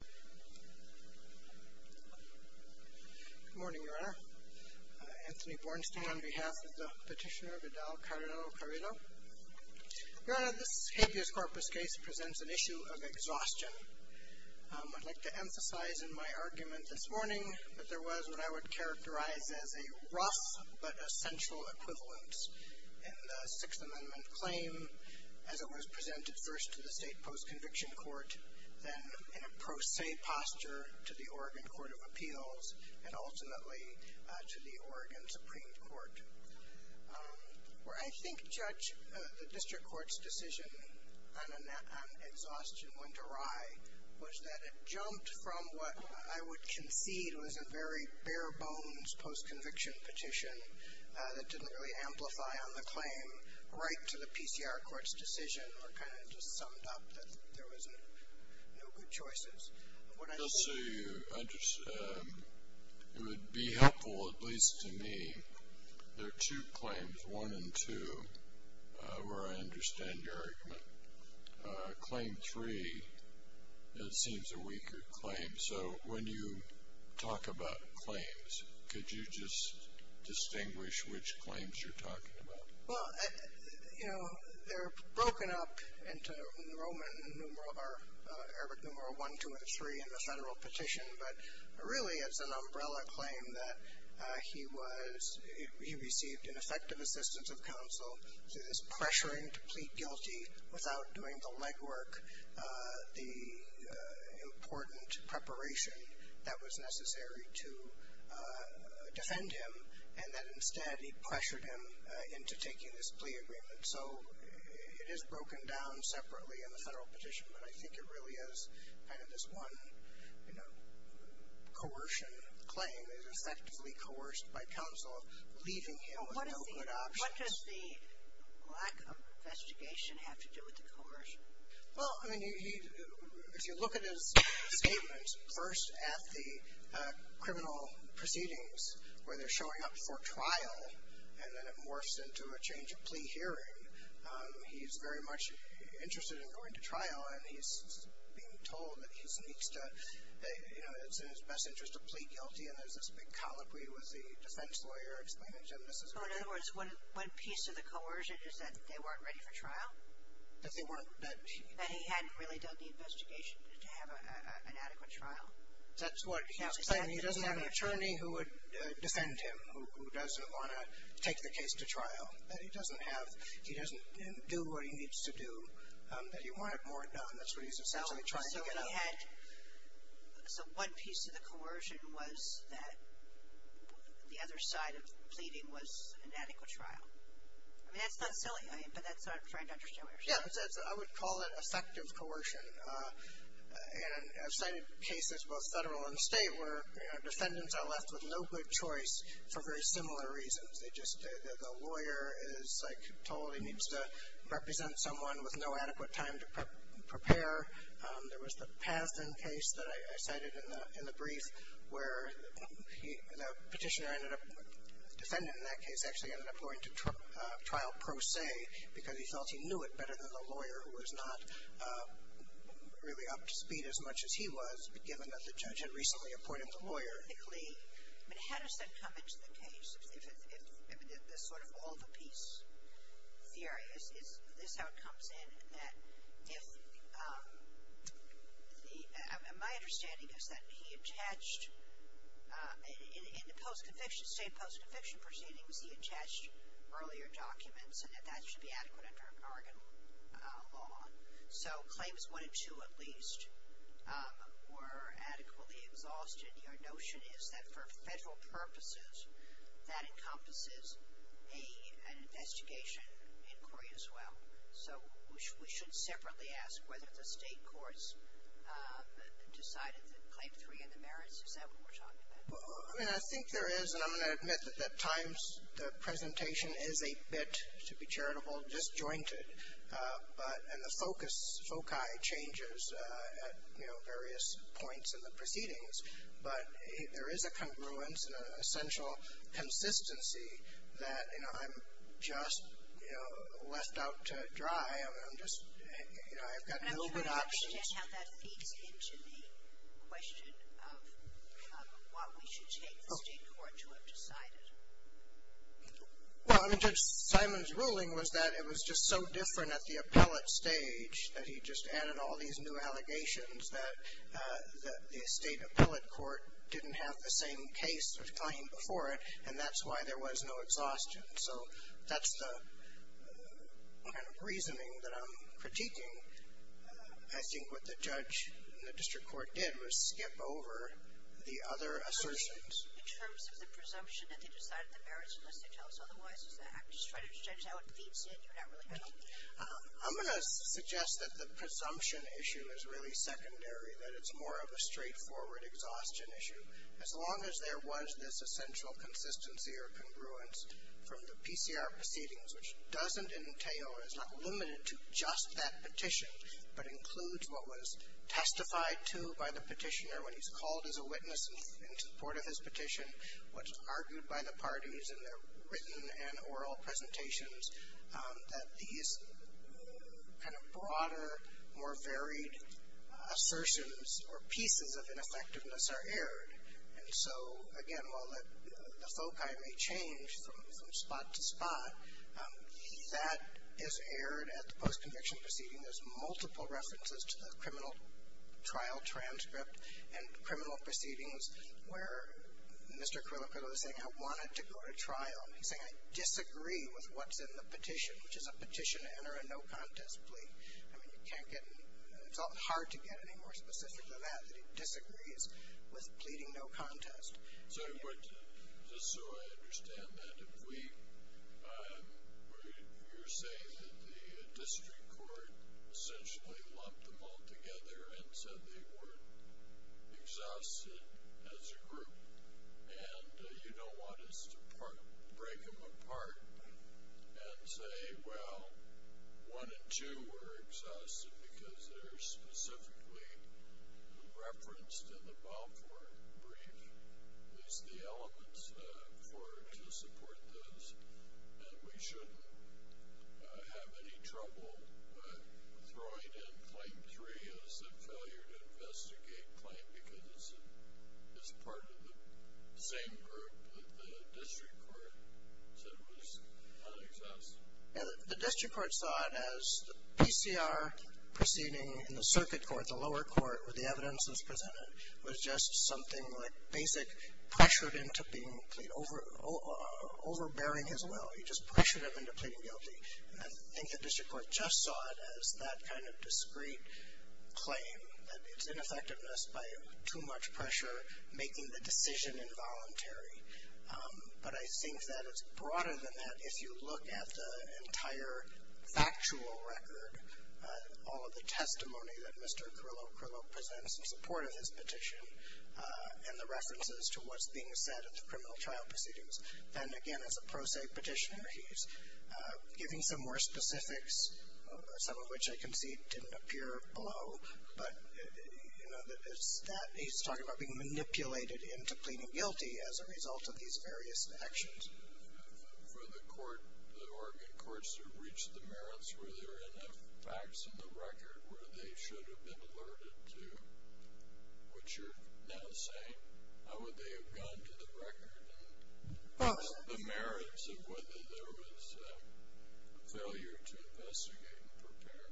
Good morning, Your Honor. Anthony Bornstein on behalf of the Petitioner Vidal Carrillo-Carrillo. Your Honor, this habeas corpus case presents an issue of exhaustion. I'd like to emphasize in my argument this morning that there was what I would characterize as a rough but essential equivalence in the Sixth Amendment claim as it was presented first to the state post-conviction court, then in a pro se posture to the Oregon Court of Appeals, and ultimately to the Oregon Supreme Court. Where I think, Judge, the district court's decision on exhaustion went awry was that it jumped from what I would concede was a very bare bones post-conviction petition that didn't really amplify on the claim right to the PCR court's decision or kind of just summed up that there was no good choices. It would be helpful, at least to me, there are two claims, one and two, where I understand your argument. Claim three, it seems a weaker claim, so when you talk about claims, could you just distinguish which claims you're talking about? Well, you know, they're broken up into Roman numeral, or Arabic numeral one, two, and three in the federal petition, but really it's an umbrella claim that he was, he received an effective assistance of counsel through this pressuring to plead guilty without doing the legwork, the important preparation that was necessary to defend him, and that instead he pressured him into taking this plea agreement. So it is broken down separately in the federal petition, but I think it really is kind of this one, you know, coercion claim. It is effectively coerced by counsel, leaving him with no good options. What does the lack of investigation have to do with the coercion? Well, I mean, if you look at his statements, first at the criminal proceedings where they're showing up for trial, and then it morphs into a change of plea hearing. He's very much interested in going to trial, and he's being told that he needs to, you know, it's in his best interest to plead guilty, and there's this big colloquy with the defense lawyer explaining to him this is. So in other words, one piece of the coercion is that they weren't ready for trial? That they weren't. That he hadn't really done the investigation to have an adequate trial. That's what he's saying. He doesn't have an attorney who would defend him, who doesn't want to take the case to trial. That he doesn't have, he doesn't do what he needs to do. That he wanted more done. That's what he's essentially trying to get at. So one piece of the coercion was that the other side of pleading was an adequate trial. I mean, that's not silly, but that's what I'm trying to understand. Yeah, I would call it effective coercion. And I've cited cases, both federal and state, where defendants are left with no good choice for very similar reasons. They just, the lawyer is, like, told he needs to represent someone with no adequate time to prepare. There was the Pazden case that I cited in the brief, where the petitioner ended up, defendant in that case actually ended up going to trial pro se, because he felt he knew it better than the lawyer who was not really up to speed as much as he was, given that the judge had recently appointed the lawyer. I mean, how does that come into the case? There's sort of all the piece theory. This is how it comes in, that if the, my understanding is that he attached, in the post-conviction, state post-conviction proceedings, he attached earlier documents and that that should be adequate under Oregon law. So claims one and two, at least, were adequately exhausted. Your notion is that for federal purposes, that encompasses an investigation inquiry as well. So we should separately ask whether the state courts decided that claim three and the merits, is that what we're talking about? I mean, I think there is, and I'm going to admit that at times the presentation is a bit, to be charitable, disjointed, but, and the focus, foci changes at, you know, various points in the proceedings. But there is a congruence and an essential consistency that, you know, I'm just, you know, left out to dry. I mean, I'm just, you know, I've got no good options. I'm trying to understand how that feeds into the question Well, I mean, Judge Simon's ruling was that it was just so different at the appellate stage that he just added all these new allegations that the state appellate court didn't have the same case of claim before it, and that's why there was no exhaustion. So that's the kind of reasoning that I'm critiquing. I think what the judge in the district court did was skip over the other assertions. In terms of the presumption that they decided the merits unless they tell us otherwise, is that how it feeds in? I'm going to suggest that the presumption issue is really secondary, that it's more of a straightforward exhaustion issue. As long as there was this essential consistency or congruence from the PCR proceedings, which doesn't entail, is not limited to just that petition, but includes what was testified to by the petitioner when he's called as a witness in support of his petition, what's argued by the parties in their written and oral presentations, that these kind of broader, more varied assertions or pieces of ineffectiveness are aired. And so, again, while the foci may change from spot to spot, that is aired at the post-conviction proceeding. There's multiple references to the criminal trial transcript and criminal proceedings where Mr. Quilicoto is saying, I wanted to go to trial. He's saying, I disagree with what's in the petition, which is a petition to enter a no-contest plea. I mean, you can't get and it's hard to get any more specific than that, that he disagrees with pleading no-contest. Just so I understand that, if you're saying that the district court essentially lumped them all together and said they weren't exhausted as a group and you don't want us to break them apart and say, well, one and two were exhausted because they're specifically referenced in the Balfour brief. There's the elements to support those and we shouldn't have any trouble throwing in claim three as a failure to investigate claim because it's part of the same group that the district court said was not exhausted. The district court saw it as the PCR proceeding in the circuit court, the lower court where the evidence was presented, was just something like Basic pressured into being overbearing his will. He just pressured him into pleading guilty. And I think the district court just saw it as that kind of discrete claim, that it's ineffectiveness by too much pressure making the decision involuntary. But I think that it's broader than that if you look at the entire factual record, all of the testimony that Mr. Curillo-Curillo presents in support of his petition and the references to what's being said at the criminal trial proceedings. Then, again, as a pro se petitioner, he's giving some more specifics, some of which I can see didn't appear below. But he's talking about being manipulated into pleading guilty as a result of these various actions. For the Oregon courts to reach the merits where there are enough facts in the record where they should have been alerted to what you're now saying, how would they have gone to the record and the merits of whether there was failure to investigate and prepare?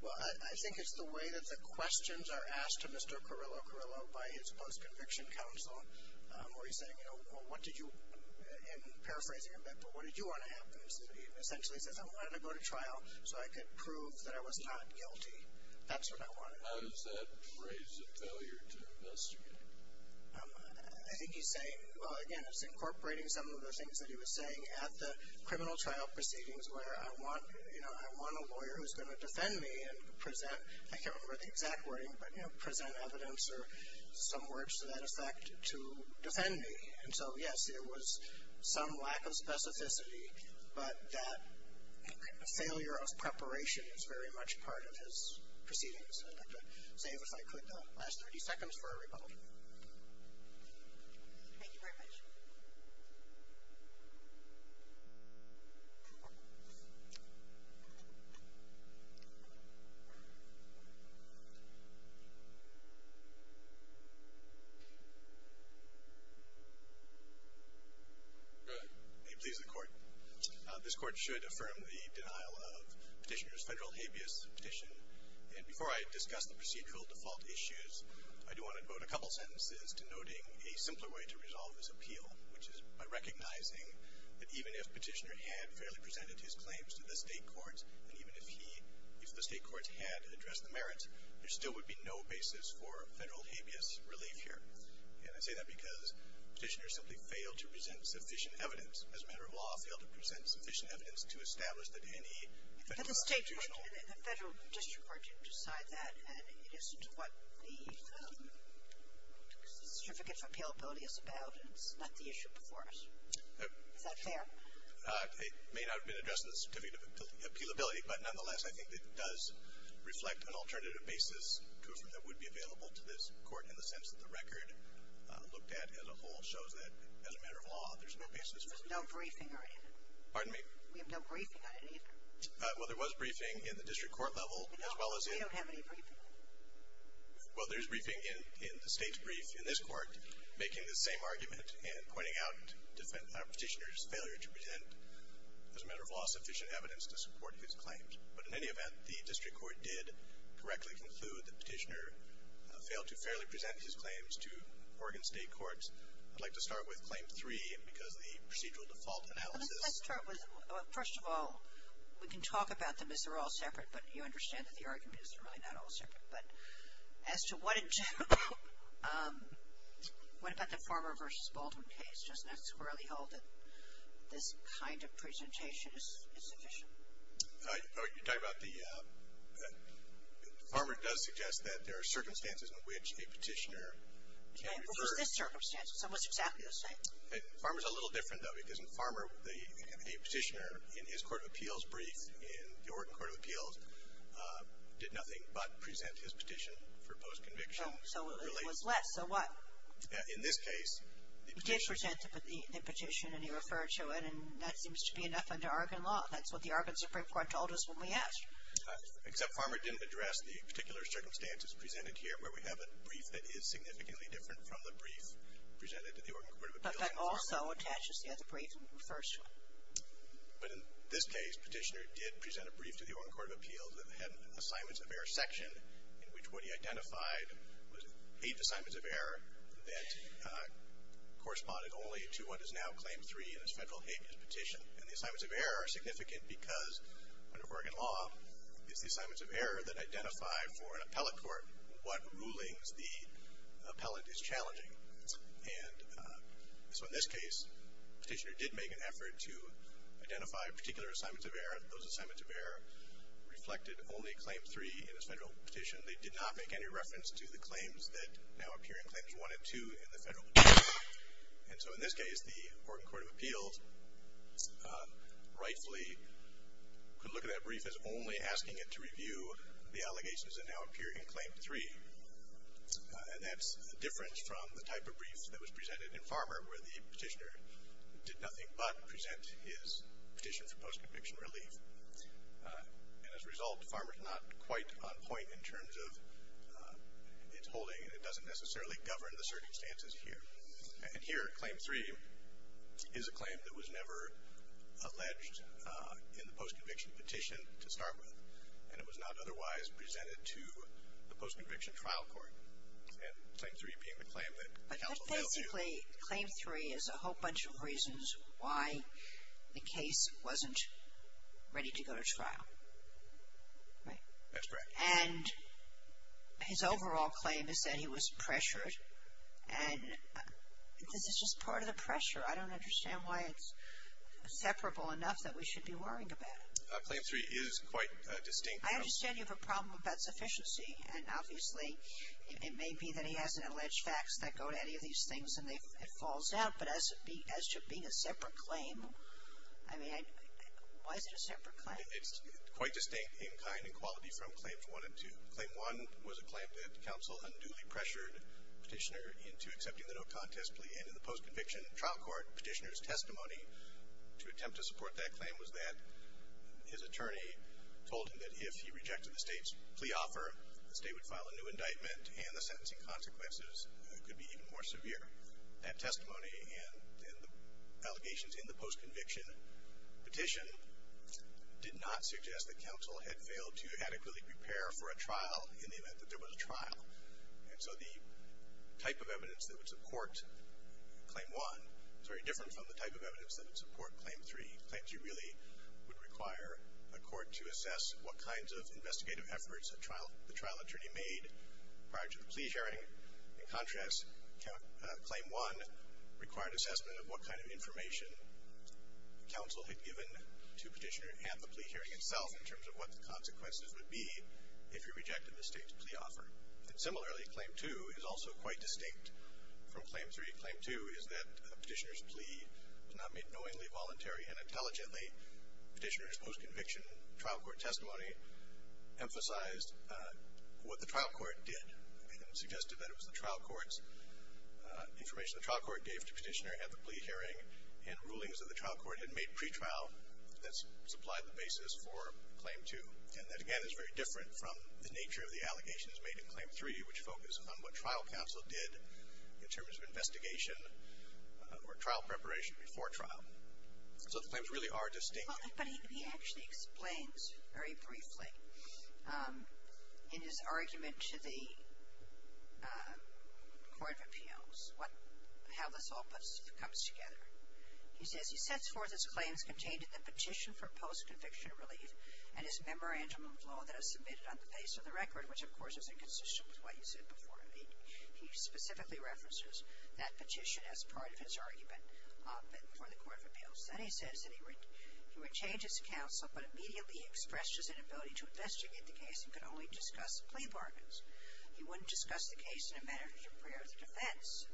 Well, I think it's the way that the questions are asked to Mr. Curillo-Curillo by his post-conviction counsel where he's saying, you know, what did you, and paraphrasing him, what did you want to happen? He essentially says, I wanted to go to trial so I could prove that I was not guilty. That's what I wanted. How does that raise the failure to investigate? I think he's saying, well, again, it's incorporating some of the things that he was saying at the criminal trial proceedings where I want a lawyer who's going to defend me and present, I can't remember the exact wording, but present evidence or some words to that effect to defend me. And so, yes, there was some lack of specificity, but that failure of preparation is very much part of his proceedings. I'd like to save, if I could, the last 30 seconds for a rebuttal. Thank you very much. Go ahead. It pleases the Court. This Court should affirm the denial of Petitioner's federal habeas petition, and before I discuss the procedural default issues, I do want to devote a couple sentences to noting a simpler way to resolve this appeal, which is by recognizing that even if Petitioner had fairly presented his claims to the State courts, and even if he, if the State courts had addressed the merits, there still would be no basis for federal habeas relief here. And I say that because Petitioner simply failed to present sufficient evidence, as a matter of law, failed to present sufficient evidence to establish that any federal judicial The federal district court didn't decide that, and it isn't what the Certificate of Appealability is about, and it's not the issue before us. Is that fair? It may not have been addressed in the Certificate of Appealability, but nonetheless, I think it does reflect an alternative basis to affirm that it would be available to this Court, in the sense that the record looked at as a whole shows that, as a matter of law, there's no basis for it. There's no briefing on it. Pardon me? We have no briefing on it either. Well, there was briefing in the district court level, as well as in the We don't have any briefing. Well, there's briefing in the State's brief in this Court, making the same argument and pointing out Petitioner's failure to present, as a matter of law, sufficient evidence to support his claims. But in any event, the district court did correctly conclude that Petitioner failed to fairly present his claims to Oregon State courts. I'd like to start with Claim 3, and because the procedural default analysis Well, let's start with, first of all, we can talk about them as they're all separate, but you understand that the arguments are really not all separate. But as to what in general, what about the Farmer v. Baldwin case? Doesn't that squarely hold that this kind of presentation is sufficient? You're talking about the, Farmer does suggest that there are circumstances in which a Petitioner can refer What was this circumstance? It's almost exactly the same. Farmer's a little different, though, because in Farmer, the Petitioner in his Court of Appeals brief in the Oregon Court of Appeals did nothing but present his petition for post-conviction. So it was less, so what? In this case, the Petitioner He did present the petition, and he referred to it, and that seems to be enough under Oregon law. That's what the Oregon Supreme Court told us when we asked. Except Farmer didn't address the particular circumstances presented here, where we have a brief that is significantly different from the brief presented to the Oregon Court of Appeals in Farmer. But that also attaches to the other brief, the first one. But in this case, Petitioner did present a brief to the Oregon Court of Appeals that had an Assignments of Error section, in which what he identified was eight Assignments of Error that corresponded only to what is now Claim 3 in his federal habeas petition. And the Assignments of Error are significant because, under Oregon law, it's the Assignments of Error that identify for an appellate court what rulings the appellate is challenging. And so in this case, Petitioner did make an effort to identify particular Assignments of Error. Those Assignments of Error reflected only Claim 3 in his federal petition. They did not make any reference to the claims that now appear in Claims 1 and 2 in the federal petition. And so in this case, the Oregon Court of Appeals rightfully could look at that brief as only asking it to review the allegations that now appear in Claim 3. And that's different from the type of brief that was presented in Farmer, where the Petitioner did nothing but present his petition for post-conviction relief. And as a result, Farmer is not quite on point in terms of its holding, and it doesn't necessarily govern the circumstances here. And here, Claim 3 is a claim that was never alleged in the post-conviction petition to start with, and it was not otherwise presented to the post-conviction trial court. And Claim 3 being the claim that counsel failed to do. But basically, Claim 3 is a whole bunch of reasons why the case wasn't ready to go to trial, right? That's correct. And his overall claim is that he was pressured. And this is just part of the pressure. I don't understand why it's separable enough that we should be worrying about it. Claim 3 is quite distinct. I understand you have a problem about sufficiency. And obviously, it may be that he has an alleged facts that go to any of these things and it falls out. But as to being a separate claim, I mean, why is it a separate claim? It's quite distinct in kind and quality from Claims 1 and 2. Claim 1 was a claim that counsel unduly pressured Petitioner into accepting the no-contest plea. And in the post-conviction trial court, Petitioner's testimony to attempt to support that claim was that his attorney told him that if he rejected the state's plea offer, the state would file a new indictment and the sentencing consequences could be even more severe. That testimony and the allegations in the post-conviction petition did not suggest that counsel had failed to adequately prepare for a trial in the event that there was a trial. And so the type of evidence that would support Claim 1 is very different from the type of evidence that would support Claim 3. Claim 3 really would require a court to assess what kinds of investigative efforts the trial attorney made prior to the plea hearing. In contrast, Claim 1 required assessment of what kind of information counsel had given to Petitioner at the plea hearing itself in terms of what the consequences would be if he rejected the state's plea offer. And similarly, Claim 2 is also quite distinct from Claim 3. Claim 2 is that Petitioner's plea was not made knowingly, voluntarily, and intelligently. Petitioner's post-conviction trial court testimony emphasized what the trial court did and suggested that it was the trial court's information the trial court gave to Petitioner at the plea hearing and rulings that the trial court had made pretrial that supplied the basis for Claim 2. And that, again, is very different from the nature of the allegations made in Claim 3, which focus on what trial counsel did in terms of investigation or trial preparation before trial. So the claims really are distinct. But he actually explains very briefly in his argument to the Court of Appeals how this all comes together. He says he sets forth his claims contained in the petition for post-conviction relief and his memorandum of law that is submitted on the basis of the record, which, of course, is inconsistent with what you said before. He specifically references that petition as part of his argument for the Court of Appeals. Then he says that he would change his counsel but immediately expressed his inability to investigate the case and could only discuss plea bargains. He wouldn't discuss the case in a manner to prepare the defense.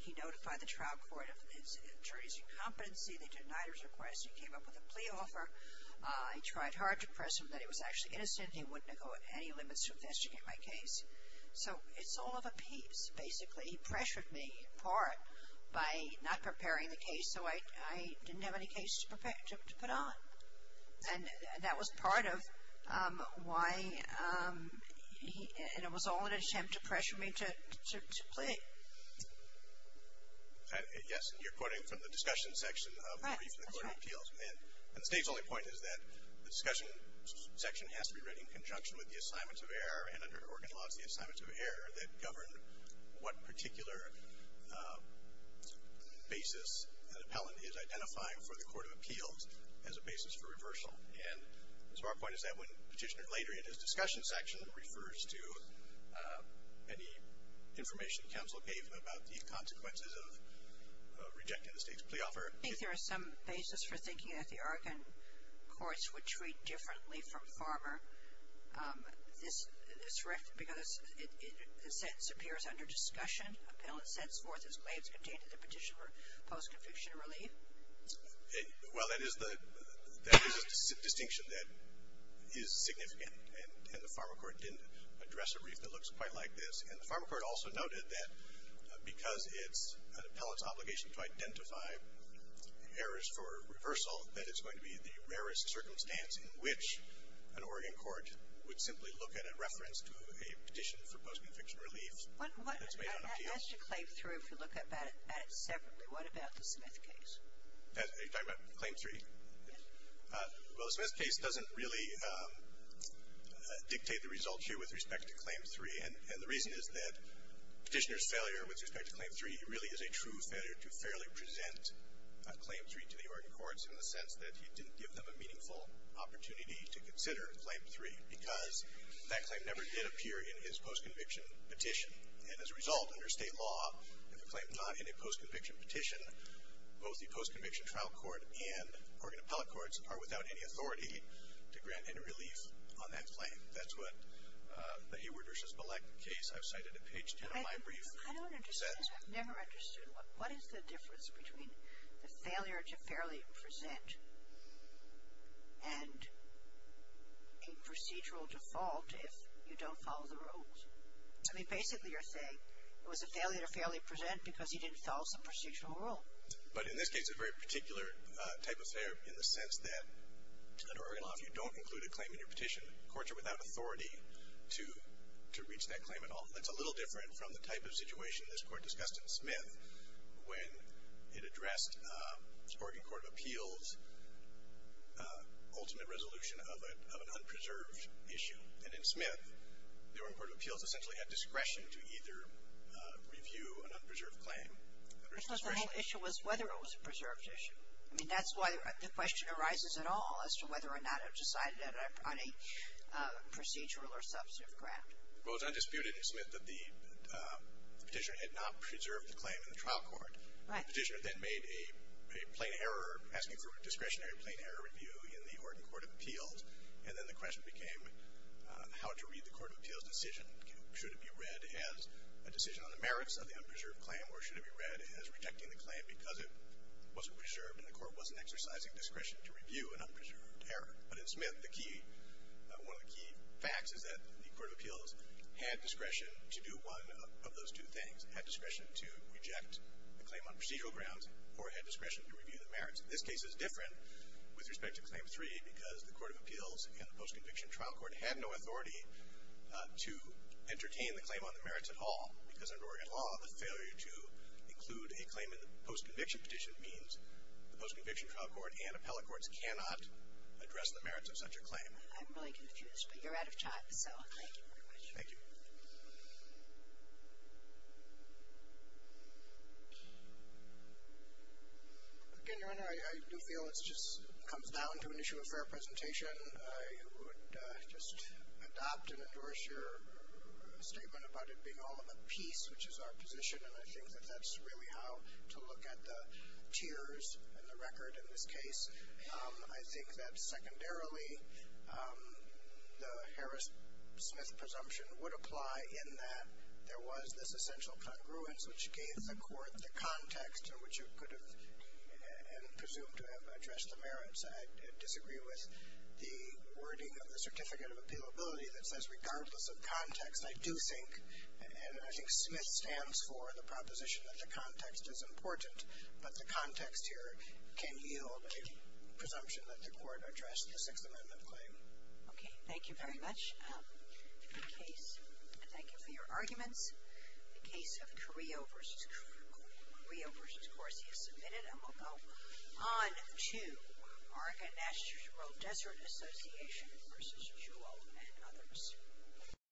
He notified the trial court of the attorney's incompetency. They denied his request. He came up with a plea offer. He tried hard to press him that he was actually innocent and he wouldn't go at any limits to investigate my case. So it's all of a piece, basically. He pressured me, in part, by not preparing the case so I didn't have any case to put on. And that was part of why it was all an attempt to pressure me to plea. Yes? You're quoting from the discussion section of the brief in the Court of Appeals. And the State's only point is that the discussion section has to be read in conjunction with the assignments of error and under Oregon law it's the assignments of error that govern what particular basis an appellant is identifying for the Court of Appeals as a basis for reversal. And so our point is that when Petitioner later in his discussion section refers to any information that counsel gave him about the consequences of rejecting the State's plea offer. I think there is some basis for thinking that the Oregon courts would treat differently from Farmer. Is this correct? Because the sentence appears under discussion. Appellant sets forth his claims contained in the petition for post-conviction relief. Well, that is a distinction that is significant. And the Farmer Court didn't address a brief that looks quite like this. And the Farmer Court also noted that because it's an appellant's obligation to identify errors for reversal, that it's going to be the rarest circumstance in which an Oregon court would simply look at a reference to a petition for post-conviction relief that's made on appeals. As you claim three, if you look at it separately, what about the Smith case? You're talking about claim three? Yes. Well, the Smith case doesn't really dictate the results here with respect to claim three. And the reason is that Petitioner's failure with respect to claim three really is a true failure to fairly present claim three to the Oregon courts in the sense that he didn't give them a meaningful opportunity to consider claim three because that claim never did appear in his post-conviction petition. And as a result, under State law, if a claim is not in a post-conviction petition, both the post-conviction trial court and Oregon appellate courts are without any authority to grant any relief on that claim. That's what the Hayward v. Malek case I've cited in page 10 of my brief says. I don't understand. I've never understood. What is the difference between the failure to fairly present and a procedural default if you don't follow the rules? I mean, basically you're saying it was a failure to fairly present because you didn't follow some procedural rule. But in this case, a very particular type of failure in the sense that under Oregon law, if you don't include a claim in your petition, courts are without authority to reach that claim at all. That's a little different from the type of situation this Court discussed in Smith when it addressed Oregon Court of Appeals' ultimate resolution of an unpreserved issue. And in Smith, the Oregon Court of Appeals essentially had discretion to either review an unpreserved claim or to discretionary review it. Because the whole issue was whether it was a preserved issue. I mean, that's why the question arises at all as to whether or not it was decided on a procedural or substantive grant. Well, it was undisputed in Smith that the petitioner had not preserved the claim in the trial court. Right. The petitioner then made a plain error asking for a discretionary plain error review in the Oregon Court of Appeals. And then the question became how to read the Court of Appeals' decision. Should it be read as a decision on the merits of the unpreserved claim or should it be read as rejecting the claim because it wasn't preserved and the Court wasn't exercising discretion to review an unpreserved error? But in Smith, the key – one of the key facts is that the Court of Appeals had discretion to do one of those two things. It had discretion to reject the claim on procedural grounds or it had discretion to review the merits. And the post-conviction trial court had no authority to entertain the claim on the merits at all because under Oregon law, the failure to include a claim in the post-conviction petition means the post-conviction trial court and appellate courts cannot address the merits of such a claim. I'm really confused, but you're out of time, so thank you very much. Thank you. Again, Your Honor, I do feel it just comes down to an issue of fair presentation. I would just adopt and endorse your statement about it being all of a piece, which is our position, and I think that that's really how to look at the tiers in the record in this case. I think that secondarily, the Harris-Smith presumption would apply in that there was this essential congruence which gave the court the context in which it could have presumed to have addressed the merits. I disagree with the wording of the Certificate of Appealability that says regardless of context, I do think – and I think Smith stands for the proposition that the context is important, but the context here can yield a presumption that the court addressed the Sixth Amendment claim. Okay. Thank you very much. Thank you for your arguments. The case of Carrillo v. Corsi is submitted, and we'll go on to Oregon National Desert Association v. Jewell and others.